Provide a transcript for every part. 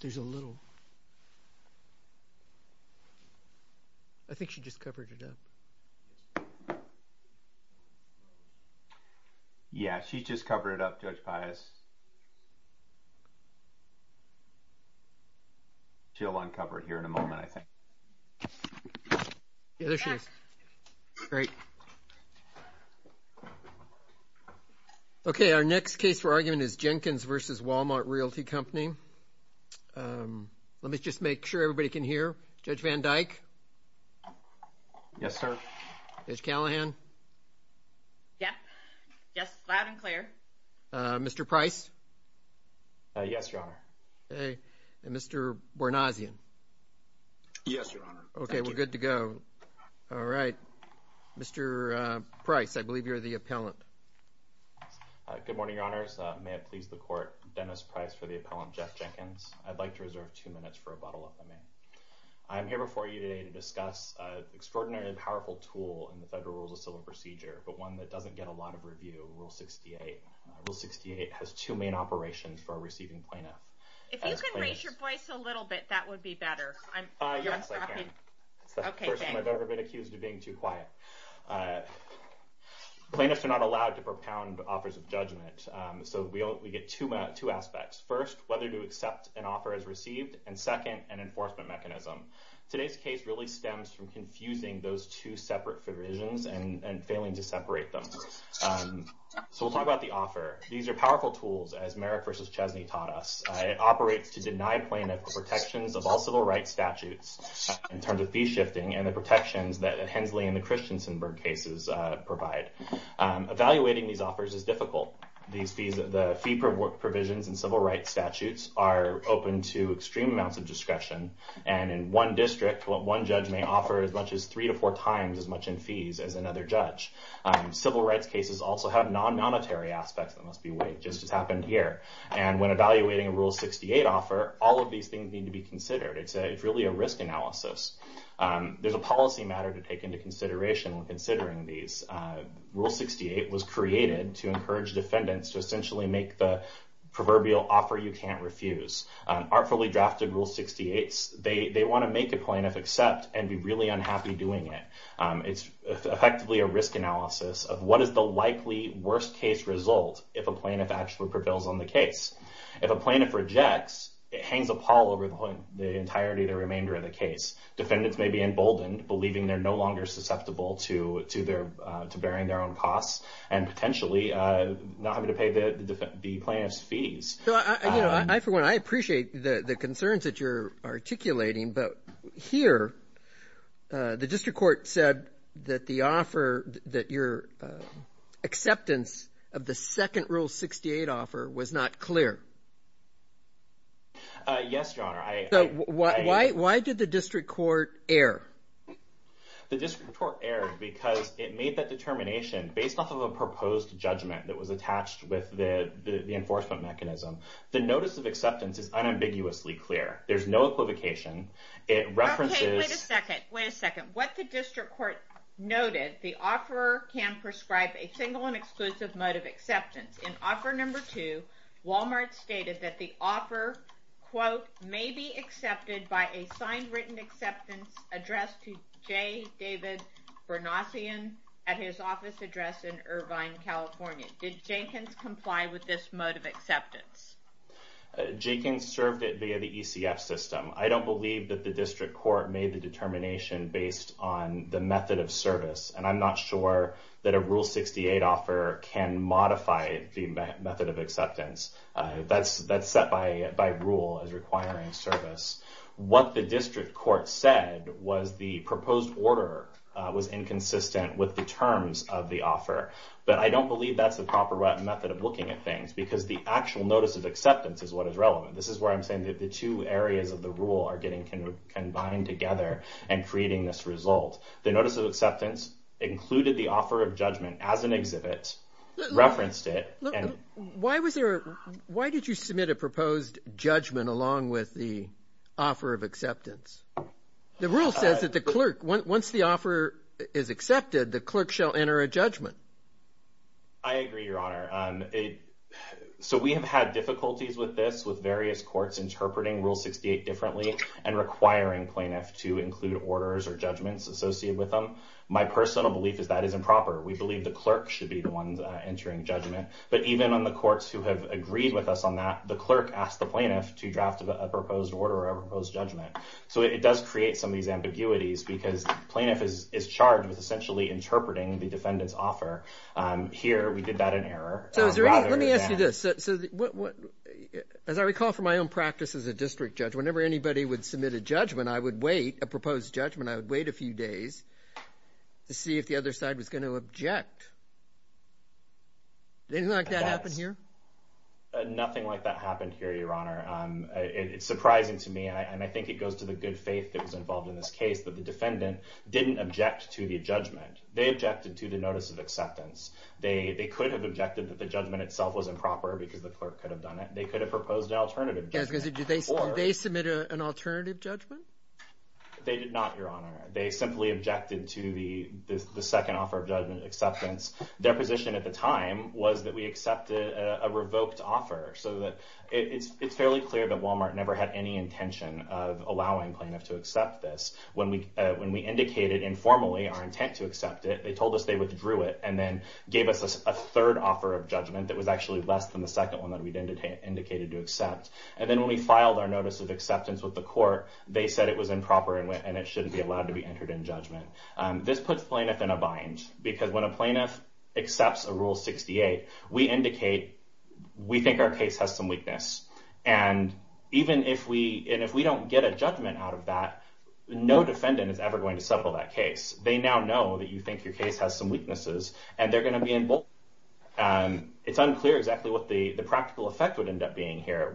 There's a little... I think she just covered it up. Yeah, she just covered it up, Judge Pius. She'll uncover it here in a moment, I think. Yeah, there she is. Great. Okay, our next case for argument is Jinkins v. Wal-Mart Realty Company. Let me just make sure everybody can hear. Judge Van Dyke? Yes, sir. Judge Callahan? Yes. Yes, loud and clear. Mr. Price? Yes, Your Honor. And Mr. Bournazian? Yes, Your Honor. Okay, we're good to go. All right. Mr. Price, I believe you're the appellant. Good morning, Your Honors. May it please the Court, Dennis Price for the appellant, Jeff Jinkins. I'd like to reserve two minutes for a bottle of lemonade. I'm here before you today to discuss an extraordinarily powerful tool in the Federal Rules of Civil Procedure, but one that doesn't get a lot of review, Rule 68. Rule 68 has two main operations for a receiving plaintiff. If you could raise your voice a little bit, that would be better. Yes, I can. That's the first time I've ever been accused of being too quiet. Plaintiffs are not allowed to propound offers of judgment, so we get two aspects. First, whether to accept an offer as received, and second, an enforcement mechanism. Today's case really stems from confusing those two separate provisions and failing to separate them. So we'll talk about the offer. These are powerful tools, as Merrick v. Chesney taught us. It operates to deny plaintiffs the protections of all civil rights statutes in terms of fee shifting and the protections that Hensley and the Christensenburg cases provide. Evaluating these offers is difficult. The fee provisions in civil rights statutes are open to extreme amounts of discretion, and in one district, one judge may offer as much as three to four times as much in fees as another judge. Civil rights cases also have non-monetary aspects that must be weighed, just as happened here. When evaluating a Rule 68 offer, all of these things need to be considered. It's really a risk analysis. There's a policy matter to take into consideration when considering these. Rule 68 was created to encourage defendants to essentially make the proverbial offer you can't refuse. Artfully drafted Rule 68s, they want to make a plaintiff accept and be really unhappy doing it. It's effectively a risk analysis of what is the likely worst-case result if a plaintiff actually prevails on the case. If a plaintiff rejects, it hangs a pall over the entirety of the remainder of the case. Defendants may be emboldened, believing they're no longer susceptible to bearing their own costs and potentially not having to pay the plaintiff's fees. I appreciate the concerns that you're articulating, but here, the district court said that the offer, that your acceptance of the second Rule 68 offer was not clear. Yes, Your Honor. Why did the district court err? The district court erred because it made that determination based off of a proposed judgment that was attached with the enforcement mechanism. The notice of acceptance is unambiguously clear. There's no equivocation. It references... Wait a second. What the district court noted, the offeror can prescribe a single and exclusive mode of acceptance. In offer number two, Walmart stated that the offer may be accepted by a signed written acceptance addressed to J. David Bernassian at his office address in Irvine, California. Did Jenkins comply with this mode of acceptance? Jenkins served it via the ECF system. I don't believe that the district court made the determination based on the method of service. I'm not sure that a Rule 68 offer can modify the method of acceptance. That's set by rule as requiring service. What the district court said was the proposed order was inconsistent with the terms of the offer. I don't believe that's the proper method of looking at things because the actual notice of acceptance is what is relevant. This is where I'm saying that the two areas of the rule are getting combined together and creating this result. The notice of acceptance included the offer of judgment as an exhibit, referenced it... Why did you submit a proposed judgment along with the offer of acceptance? The rule says that the clerk, once the offer is accepted, the clerk shall enter a judgment. I agree, Your Honor. We have had difficulties with this, with various courts interpreting Rule 68 differently and requiring plaintiffs to include orders or judgments associated with them. My personal belief is that is improper. We believe the clerk should be the one entering judgment, but even on the courts who have agreed with us on that, the clerk asked the plaintiff to draft a proposed order or a proposed judgment. It does create some of these ambiguities because the plaintiff is charged with essentially interpreting the defendant's offer. Here, we did that in error. Let me ask you this. As I recall from my own practice as a district judge, whenever anybody would submit a judgment, a proposed judgment, I would wait a few days to see if the other side was going to object. Did anything like that happen here? Nothing like that happened here, Your Honor. It's surprising to me, and I think it goes to the good faith that was involved in this case, that the defendant didn't object to the judgment. They objected to the notice of acceptance. They could have objected that the judgment itself was improper because the clerk could have done it. They could have proposed an alternative judgment. Did they submit an alternative judgment? They did not, Your Honor. They simply objected to the second offer of judgment acceptance. Their position at the time was that we accepted a revoked offer so that it's fairly clear that Walmart never had any intention of allowing plaintiffs to accept this. When we indicated informally our intent to accept it, they told us they withdrew it and then gave us a third offer of judgment that was actually less than the second one that we'd indicated to accept. And then when we filed our notice of acceptance with the court, they said it was improper and it shouldn't be allowed to be entered in judgment. This puts plaintiffs in a bind because when a plaintiff accepts a Rule 68, we indicate we think our case has some weakness. And even if we don't get a judgment out of that, no defendant is ever going to settle that case. They now know that you think your case has some weaknesses, and they're going to be involved. It's unclear exactly what the practical effect would end up being here.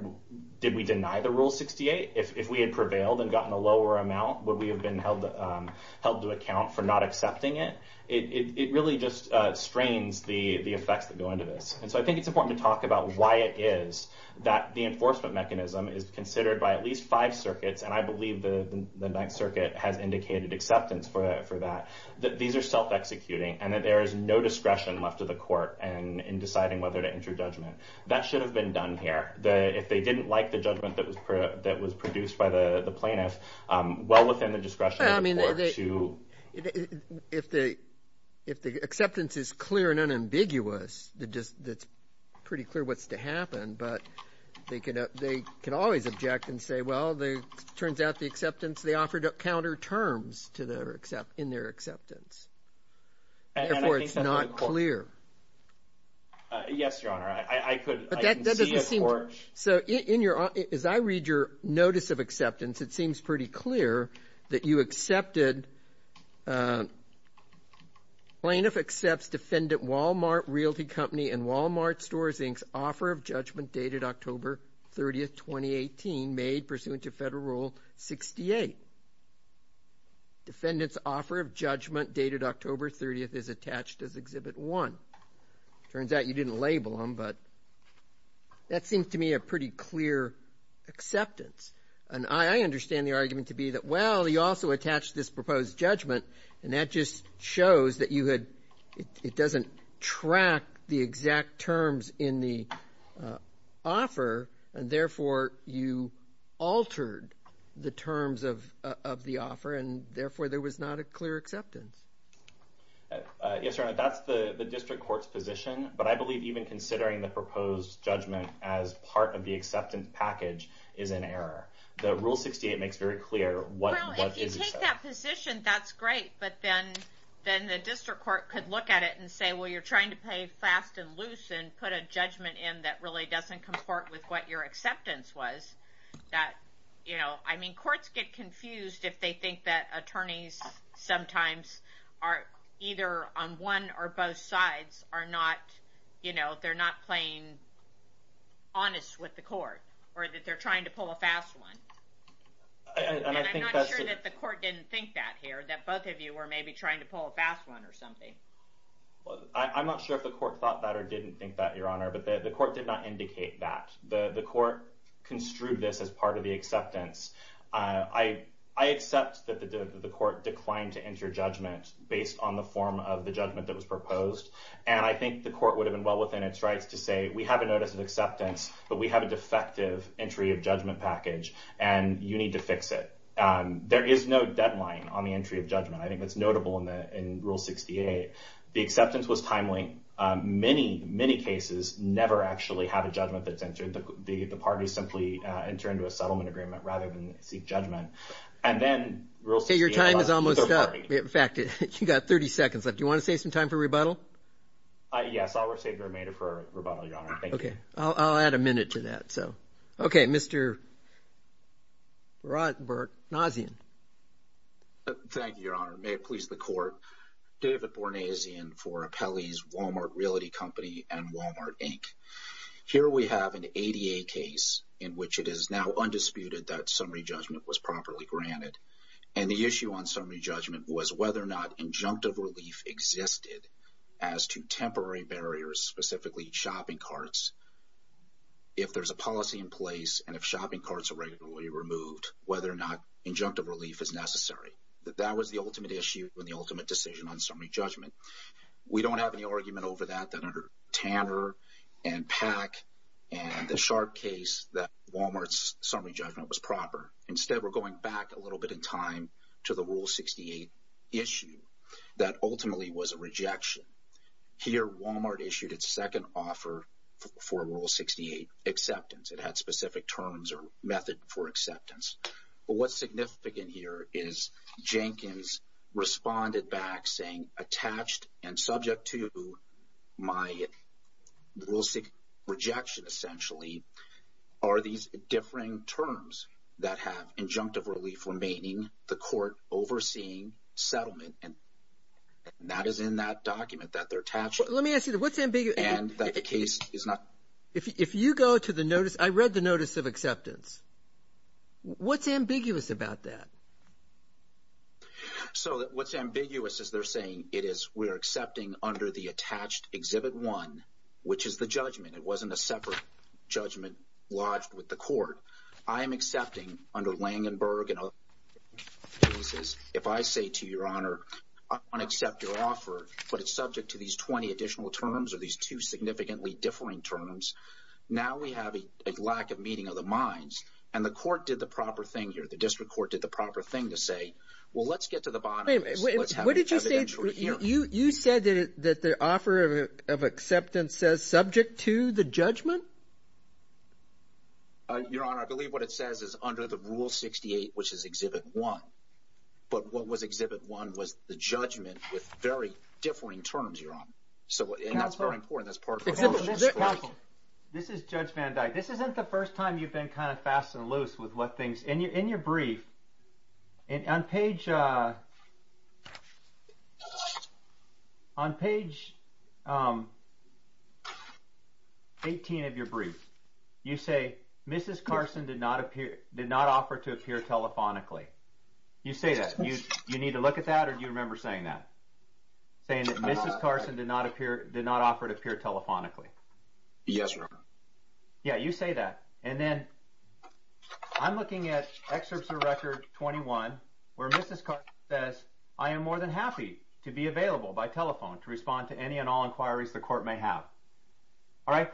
Did we deny the Rule 68? If we had prevailed and gotten a lower amount, would we have been held to account for not accepting it? It really just strains the effects that go into this. I think it's important to talk about why it is that the enforcement mechanism is considered by at least five circuits, and I believe the Ninth Circuit has indicated acceptance for that, that these are self-executing and that there is no discretion left to the court in deciding whether to enter judgment. That should have been done here. If they didn't like the judgment that was produced by the plaintiff, well within the discretion of the court to... If the acceptance is clear and unambiguous, it's pretty clear what's to happen, but they could always object and say, well, it turns out the acceptance, they offered counterterms in their acceptance. Therefore, it's not clear. Yes, Your Honor. As I read your notice of acceptance, it seems pretty clear that you accepted plaintiff accepts defendant Walmart Realty Company and Walmart Stores Inc.'s offer of judgment dated October 30, 2018, made pursuant to Federal Rule 68. Defendant's offer of judgment dated October 30 is attached as Exhibit 1. Turns out you didn't label them, but that seems to me a pretty clear acceptance, and I understand the argument to be that, well, he also attached this proposed judgment, and that just shows that you had... It doesn't track the exact terms in the offer, and therefore you altered the terms of the offer, and therefore there was not a clear acceptance. Yes, Your Honor. That's the district court's position, but I believe even considering the proposed judgment as part of the acceptance package is an error. The Rule 68 makes very clear what... If you take that position, that's great, but then the district court could look at it and say, well, you're trying to play fast and loose and put a judgment in that really doesn't comport with what your acceptance was. I mean, courts get confused if they think that attorneys sometimes are either on one or both sides are not, you know, they're not playing honest with the court, or that they're trying to pull a fast one. And I'm not sure that the court didn't think that here, that both of you were maybe trying to pull a fast one or something. I'm not sure if the court thought that or didn't think that, Your Honor, but the court did not indicate that. The court construed this as part of the acceptance. I accept that the court declined to enter judgment based on the form of the judgment that was proposed, and I think the court would have been well within its rights to say, we have a notice of acceptance, but we have a defective entry of judgment package, and you need to fix it. There is no deadline on the entry of judgment. I think that's notable in Rule 68. The acceptance was timely. Many, many cases never actually have a judgment that's entered. The parties simply enter into a settlement agreement rather than seek judgment. And then Rule 68... Your time is almost up. In fact, you've got 30 seconds left. Do you want to save some time for rebuttal? Yes, I will save your remainder for rebuttal, Your Honor. Thank you. I'll add a minute to that. Mr. Rothberg. Thank you, Your Honor. May it please the court. David Bornasian for Appellee's Walmart Realty Company and Walmart, Inc. Here we have an ADA case in which it is now undisputed that summary judgment was properly granted, and the issue on summary judgment was whether or not injunctive relief existed as to temporary barriers, specifically shopping carts, if there's a policy in place and if shopping carts are regularly removed, whether or not injunctive relief is necessary. That was the ultimate issue and the ultimate decision on summary judgment. We don't have any argument over that under Tanner and Pack and the Sharp case that Walmart's summary judgment was proper. Instead, we're going back a little bit in time to the Rule 68 issue that ultimately was a rejection. Here, Walmart issued its second offer for Rule 68 acceptance. It had specific terms or method for acceptance. But what's significant here is Jenkins responded back saying attached and subject to my are these differing terms that have injunctive relief remaining, the court overseeing settlement and that is in that document that they're attached to. Let me ask you, what's ambiguous? And that the case is not If you go to the notice, I read the notice of acceptance. What's ambiguous about that? So what's ambiguous is they're saying it is we're accepting under the attached Exhibit 1, which is the judgment. It wasn't a separate judgment lodged with the court. I am accepting under Langenberg. If I say to Your Honor, I want to accept your offer, but it's subject to these 20 additional terms or these two significantly differing terms. Now we have a lack of meeting of the minds, and the court did the proper thing here. The district court did the proper thing to say, well, let's get to the bottom of this. Let's have an evidentiary hearing. You said that the offer of acceptance says subject to the judgment? Your Honor, I believe what it says is under the Rule 68, which is Exhibit 1. But what was Exhibit 1 was the judgment with very differing terms, Your Honor. And that's very important. This is Judge Van Dyke. This isn't the first time you've been kind of fast and loose with what things... In your brief, on page on page 18 of your brief, you say, Mrs. Carson did not offer to appear telephonically. You say that. You need to look at that, or do you remember saying that? Saying that Mrs. Carson did not offer to appear telephonically. Yes, Your Honor. Yeah, you say that. And then I'm looking at Excerpts of Record 21, where Mrs. Carson says, I am more than happy to be available by telephone to respond to any and all inquiries the Court may have. And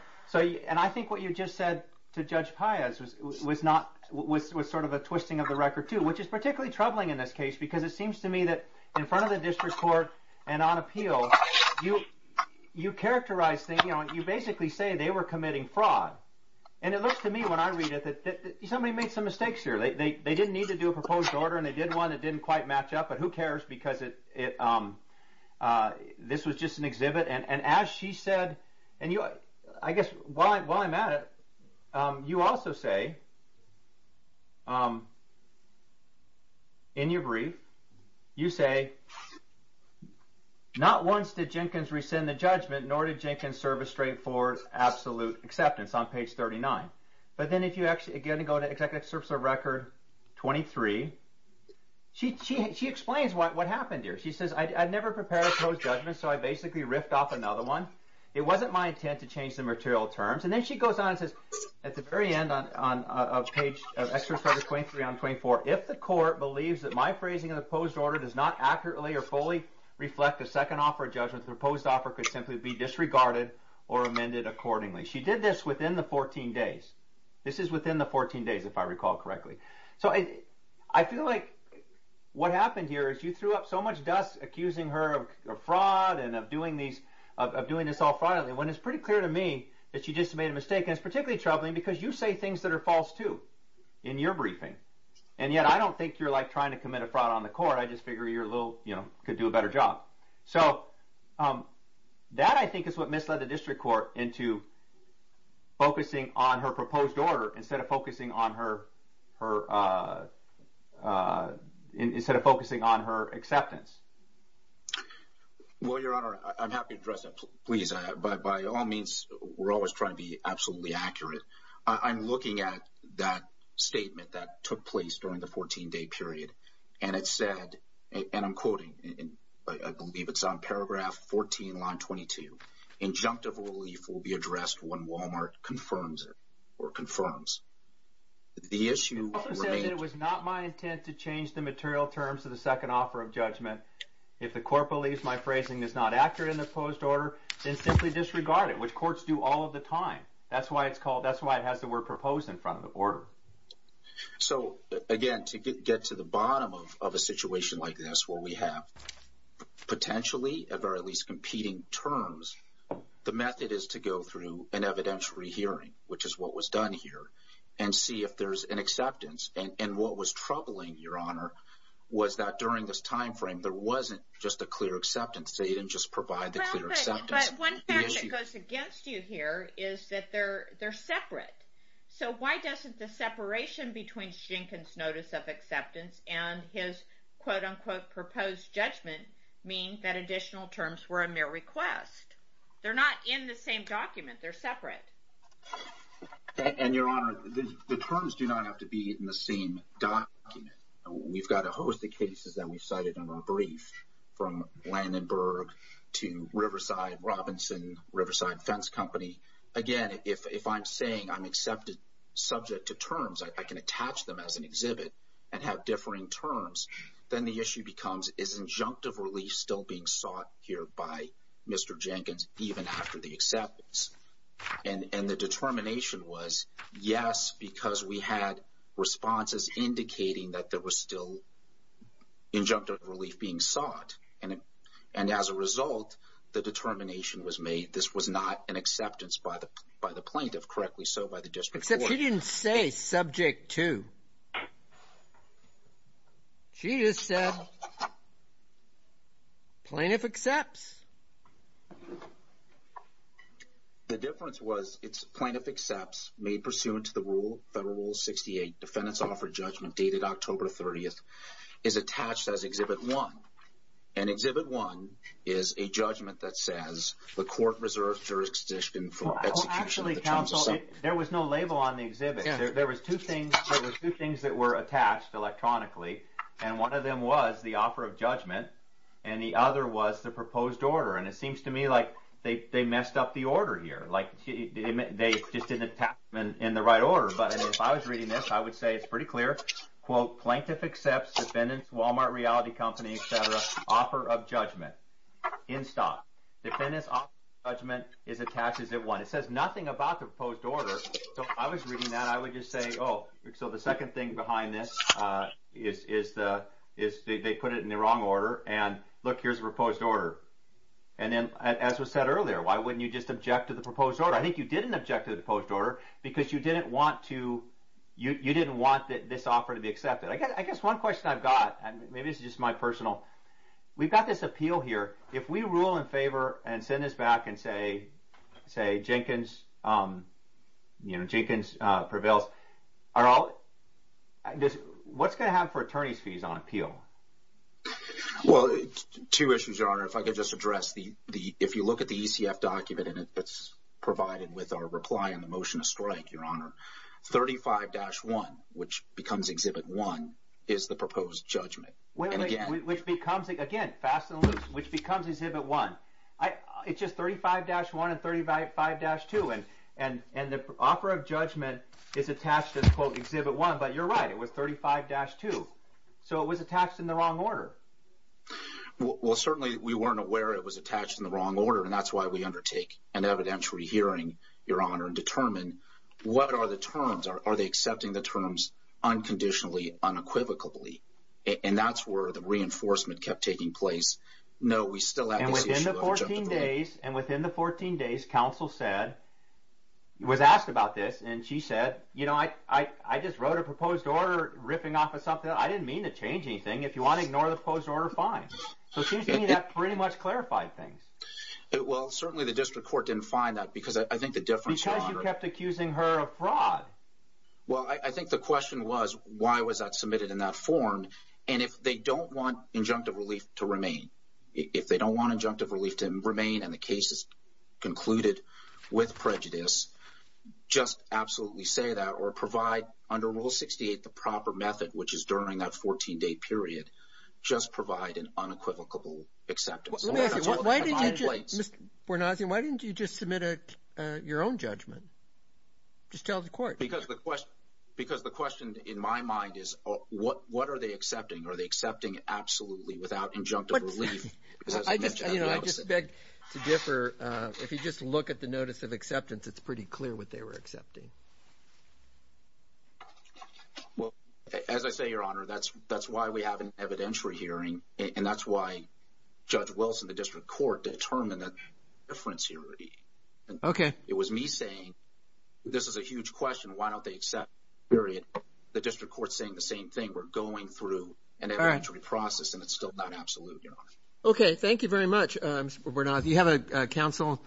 I think what you just said to Judge Paez was sort of a twisting of the record, too, which is particularly troubling in this case, because it seems to me that in front of the District Court and on appeal, you characterize things. You basically say they were committing fraud. And it looks to me when I read it that somebody made some mistakes here. They didn't need to do a proposed order, and they did one that didn't quite match up, but who cares because this was just an exhibit. And as she said, and I guess while I'm at it, you also say in your brief, you say not once did Jenkins rescind the judgment, nor did Jenkins serve a straightforward absolute acceptance on page 39. But then if you actually again go to Excerpts of Record 23, she explains what happened here. She says, I'd never prepared a proposed judgment, so I basically riffed off another one. It wasn't my intent to change the material terms. And then she goes on and says at the very end of page 23 on 24, if the Court believes that my phrasing of the proposed order does not accurately or fully reflect the second offer of judgment, the proposed offer could simply be disregarded or amended accordingly. She did this within the 14 days. This is within the 14 days, if I recall correctly. So I feel like what happened here is you threw up so much dust accusing her of fraud and of doing this all fraudily, when it's pretty clear to me that she just made a mistake. And it's particularly troubling because you say things that are false too in your briefing. And yet I don't think you're like trying to commit a fraud on the Court. I just figure you're a little, you know, could do a better job. So that I think is what misled the District Court into focusing on her proposed order instead of focusing on her her instead of focusing on her acceptance. Well, Your Honor, I'm happy to address that, please. By all means, we're always trying to be absolutely accurate. I'm looking at that statement that took place during the 14-day period. And it said, and I'm quoting, I believe it's on paragraph 14, line 22, injunctive relief will be addressed when the Court confirms. The issue remains... It was not my intent to change the material terms of the second offer of judgment. If the Court believes my phrasing is not accurate in the proposed order, then simply disregard it, which Courts do all of the time. That's why it's called, that's why it has the word proposed in front of the order. So, again, to get to the bottom of a situation like this where we have potentially or at least competing terms, the method is to go through an evidentiary hearing, which is what was done here, and see if there's an acceptance. And what was troubling, Your Honor, was that during this time frame, there wasn't just a clear acceptance. They didn't just provide the clear acceptance. But one fact that goes against you here is that they're separate. So why doesn't the separation between Jenkins' notice of acceptance and his quote-unquote proposed judgment mean that additional terms were a mere request? They're not in the same document. They're separate. And, Your Honor, the terms do not have to be in the same document. We've got a host of cases that we've cited in our brief, from Landenburg to Riverside, Robinson, Riverside Fence Company. Again, if I'm saying I'm accepted subject to terms, I can attach them as an exhibit and have differing terms, then the issue becomes is injunctive relief still being sought here by Mr. Jenkins even after the acceptance? And the determination was yes, because we had responses indicating that there was still injunctive relief being sought. And as a result, the determination was made this was not an acceptance by the plaintiff, correctly so by the District Court. Except she didn't say subject to. She just said plaintiff accepts. The difference was it's plaintiff accepts made pursuant to the rule, Federal Rule 68, defendants offer judgment dated October 30th is attached as Exhibit 1. And Exhibit 1 is a judgment that says the court reserves jurisdiction for execution. There was no label on the exhibit. There was two things that were attached electronically. And one of them was the offer of judgment. And the other was the proposed order. And it seems to me like they messed up the order here. Like they just didn't tap in the right order. But if I was reading this, I would say it's pretty clear. Quote, plaintiff accepts, defendants, Walmart Reality Company, etc., offer of judgment in stock. Defendants offer judgment is attached as Exhibit 1. It says nothing about the proposed order. So if I was reading that, I would just say, oh, so the second thing behind this is they put it in the wrong order. And look, here's the proposed order. And then, as was said earlier, why wouldn't you just object to the proposed order? I think you didn't object to the proposed order because you didn't want to, you didn't want this offer to be accepted. I guess one question I've got, maybe this is just my personal, we've got this appeal here. If we rule in favor and send this back and say, say, Jenkins, you know, Jenkins prevails, are all, what's going to happen for attorney's fees on appeal? Well, two issues, Your Honor. If I could just address the, if you look at the ECF document and it's provided with our reply and the motion to strike, Your Honor, 35-1, which becomes Exhibit 1, is the proposed judgment. Which becomes, again, fast and loose, which becomes Exhibit 1. It's just 35-1 and 35-2, and the offer of judgment is attached as, quote, Exhibit 1, but you're right. It was 35-2. So it was attached in the wrong order. Well, certainly we weren't aware it was attached in the wrong order, and that's why we undertake an evidentiary hearing, Your Honor, and determine what are the terms? Are they accepting the terms unconditionally, unequivocally? And that's where the reinforcement kept taking place. No, we still have this issue of objectivity. And within the 14 days, counsel said, was asked about this, and she said, you know, I just wrote a proposed order riffing off of something. I didn't mean to change anything. If you want to ignore the proposed order, fine. So it seems to me that pretty much clarified things. Well, certainly the district court didn't find that, because I think the difference, Your Honor... Because you kept accusing her of fraud. Well, I think the question was, why was that submitted in that form? And if they don't want injunctive relief to remain, if they don't want injunctive relief to remain, and the case is concluded with prejudice, just absolutely say that, or provide, under Rule 68, the proper method, which is during that 14-day period, just provide an unequivocable acceptance. Mr. Bournoisian, why didn't you just submit your own judgment? Just tell the court. Because the question in my mind is, what are they accepting? Are they accepting absolutely, without injunctive relief? I just beg to differ. If you just look at the notice of acceptance, it's pretty clear what they were accepting. Well, as I say, Your Honor, that's why we have an evidentiary hearing, and that's why Judge Wilson, the district court, determined that difference here. Okay. It was me saying, this is a huge question, why don't they accept, period. The district court's saying the same thing. We're going through an evidentiary process, and it's still not absolute, Your Honor. Okay, thank you very much, Mr. Bournois. You have a counsel.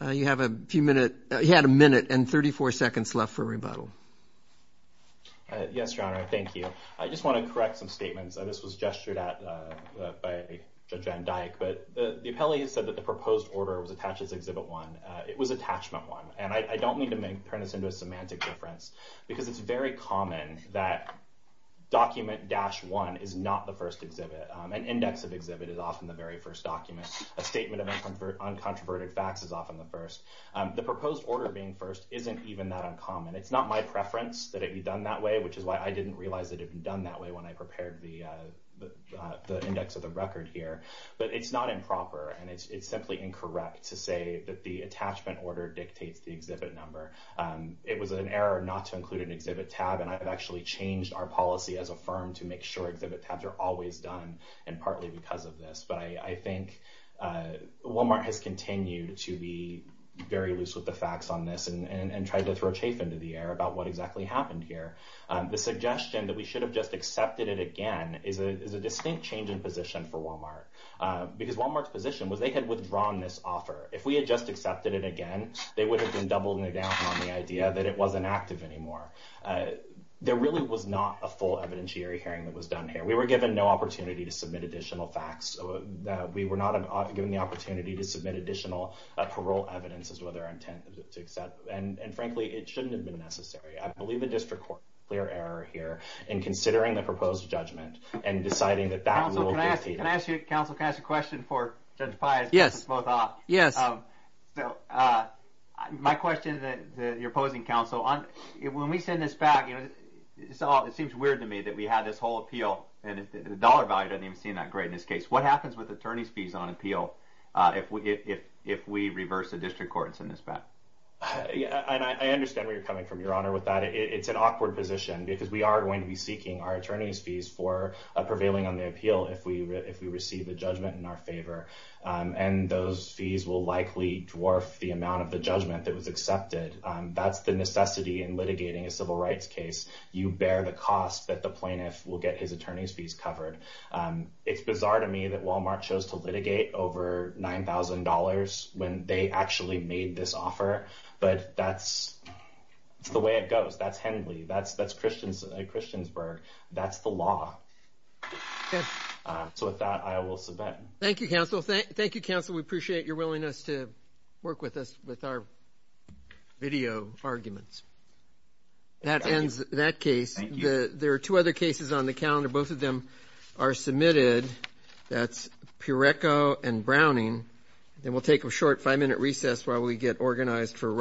You have a few minutes. You had a minute and 34 seconds left for rebuttal. Yes, Your Honor, thank you. I just want to correct some statements. This was gestured at by Judge Van Dyke, but the appellee has said that the proposed order was attached as Exhibit 1. It was Attachment 1, and I don't need to turn this into a semantic difference, because it's very common that a statement of uncontroverted facts is often the first exhibit. An index of exhibit is often the very first document. A statement of uncontroverted facts is often the first. The proposed order being first isn't even that uncommon. It's not my preference that it be done that way, which is why I didn't realize it had been done that way when I prepared the index of the record here. But it's not improper, and it's simply incorrect to say that the attachment order dictates the exhibit number. It was an error not to include an exhibit tab, and I've actually changed our policy as a firm to make sure exhibit tabs are always done, and partly because of this. But I think Walmart has continued to be very loose with the facts on this, and tried to throw chafe into the air about what exactly happened here. The suggestion that we should have just accepted it again is a distinct change in position for Walmart, because Walmart's position was they had withdrawn this offer. If we had just accepted it again, they would have been doubled down on the idea that it wasn't active anymore. There really was not a full evidentiary hearing that was done here. We were given no opportunity to submit additional facts. We were not given the opportunity to submit additional parole evidence as well as their intent to accept, and frankly, it shouldn't have been necessary. I believe the district court made a clear error here in considering the proposed judgment and deciding that that rule dictated. Counsel, can I ask you a question for Judge Pius? Yes. My question to your opposing counsel, when we send this back, it seems weird to me that we had this whole appeal, and the dollar value doesn't even seem that great in this case. What happens with attorney's fees on appeal if we reverse the district court and send this back? I understand where you're coming from, Your Honor, with that. It's an awkward position, because we are going to be seeking our attorney's fees for prevailing on the appeal if we receive the judgment in our favor. Those fees will likely dwarf the amount of the judgment that was accepted. That's the necessity in litigating a civil rights case. You bear the cost that the plaintiff will get his attorney's fees covered. It's bizarre to me that Walmart chose to litigate over $9,000 when they actually made this offer, but that's the way it goes. That's Henley. That's Christiansburg. That's the law. With that, I will submit. Thank you, counsel. We appreciate your willingness to work with us with our video arguments. That ends that case. Thank you. There are two other cases on the calendar. Both of them are submitted. That's Purecco and Browning. Then we'll take a short five-minute recess while we get organized for Wright.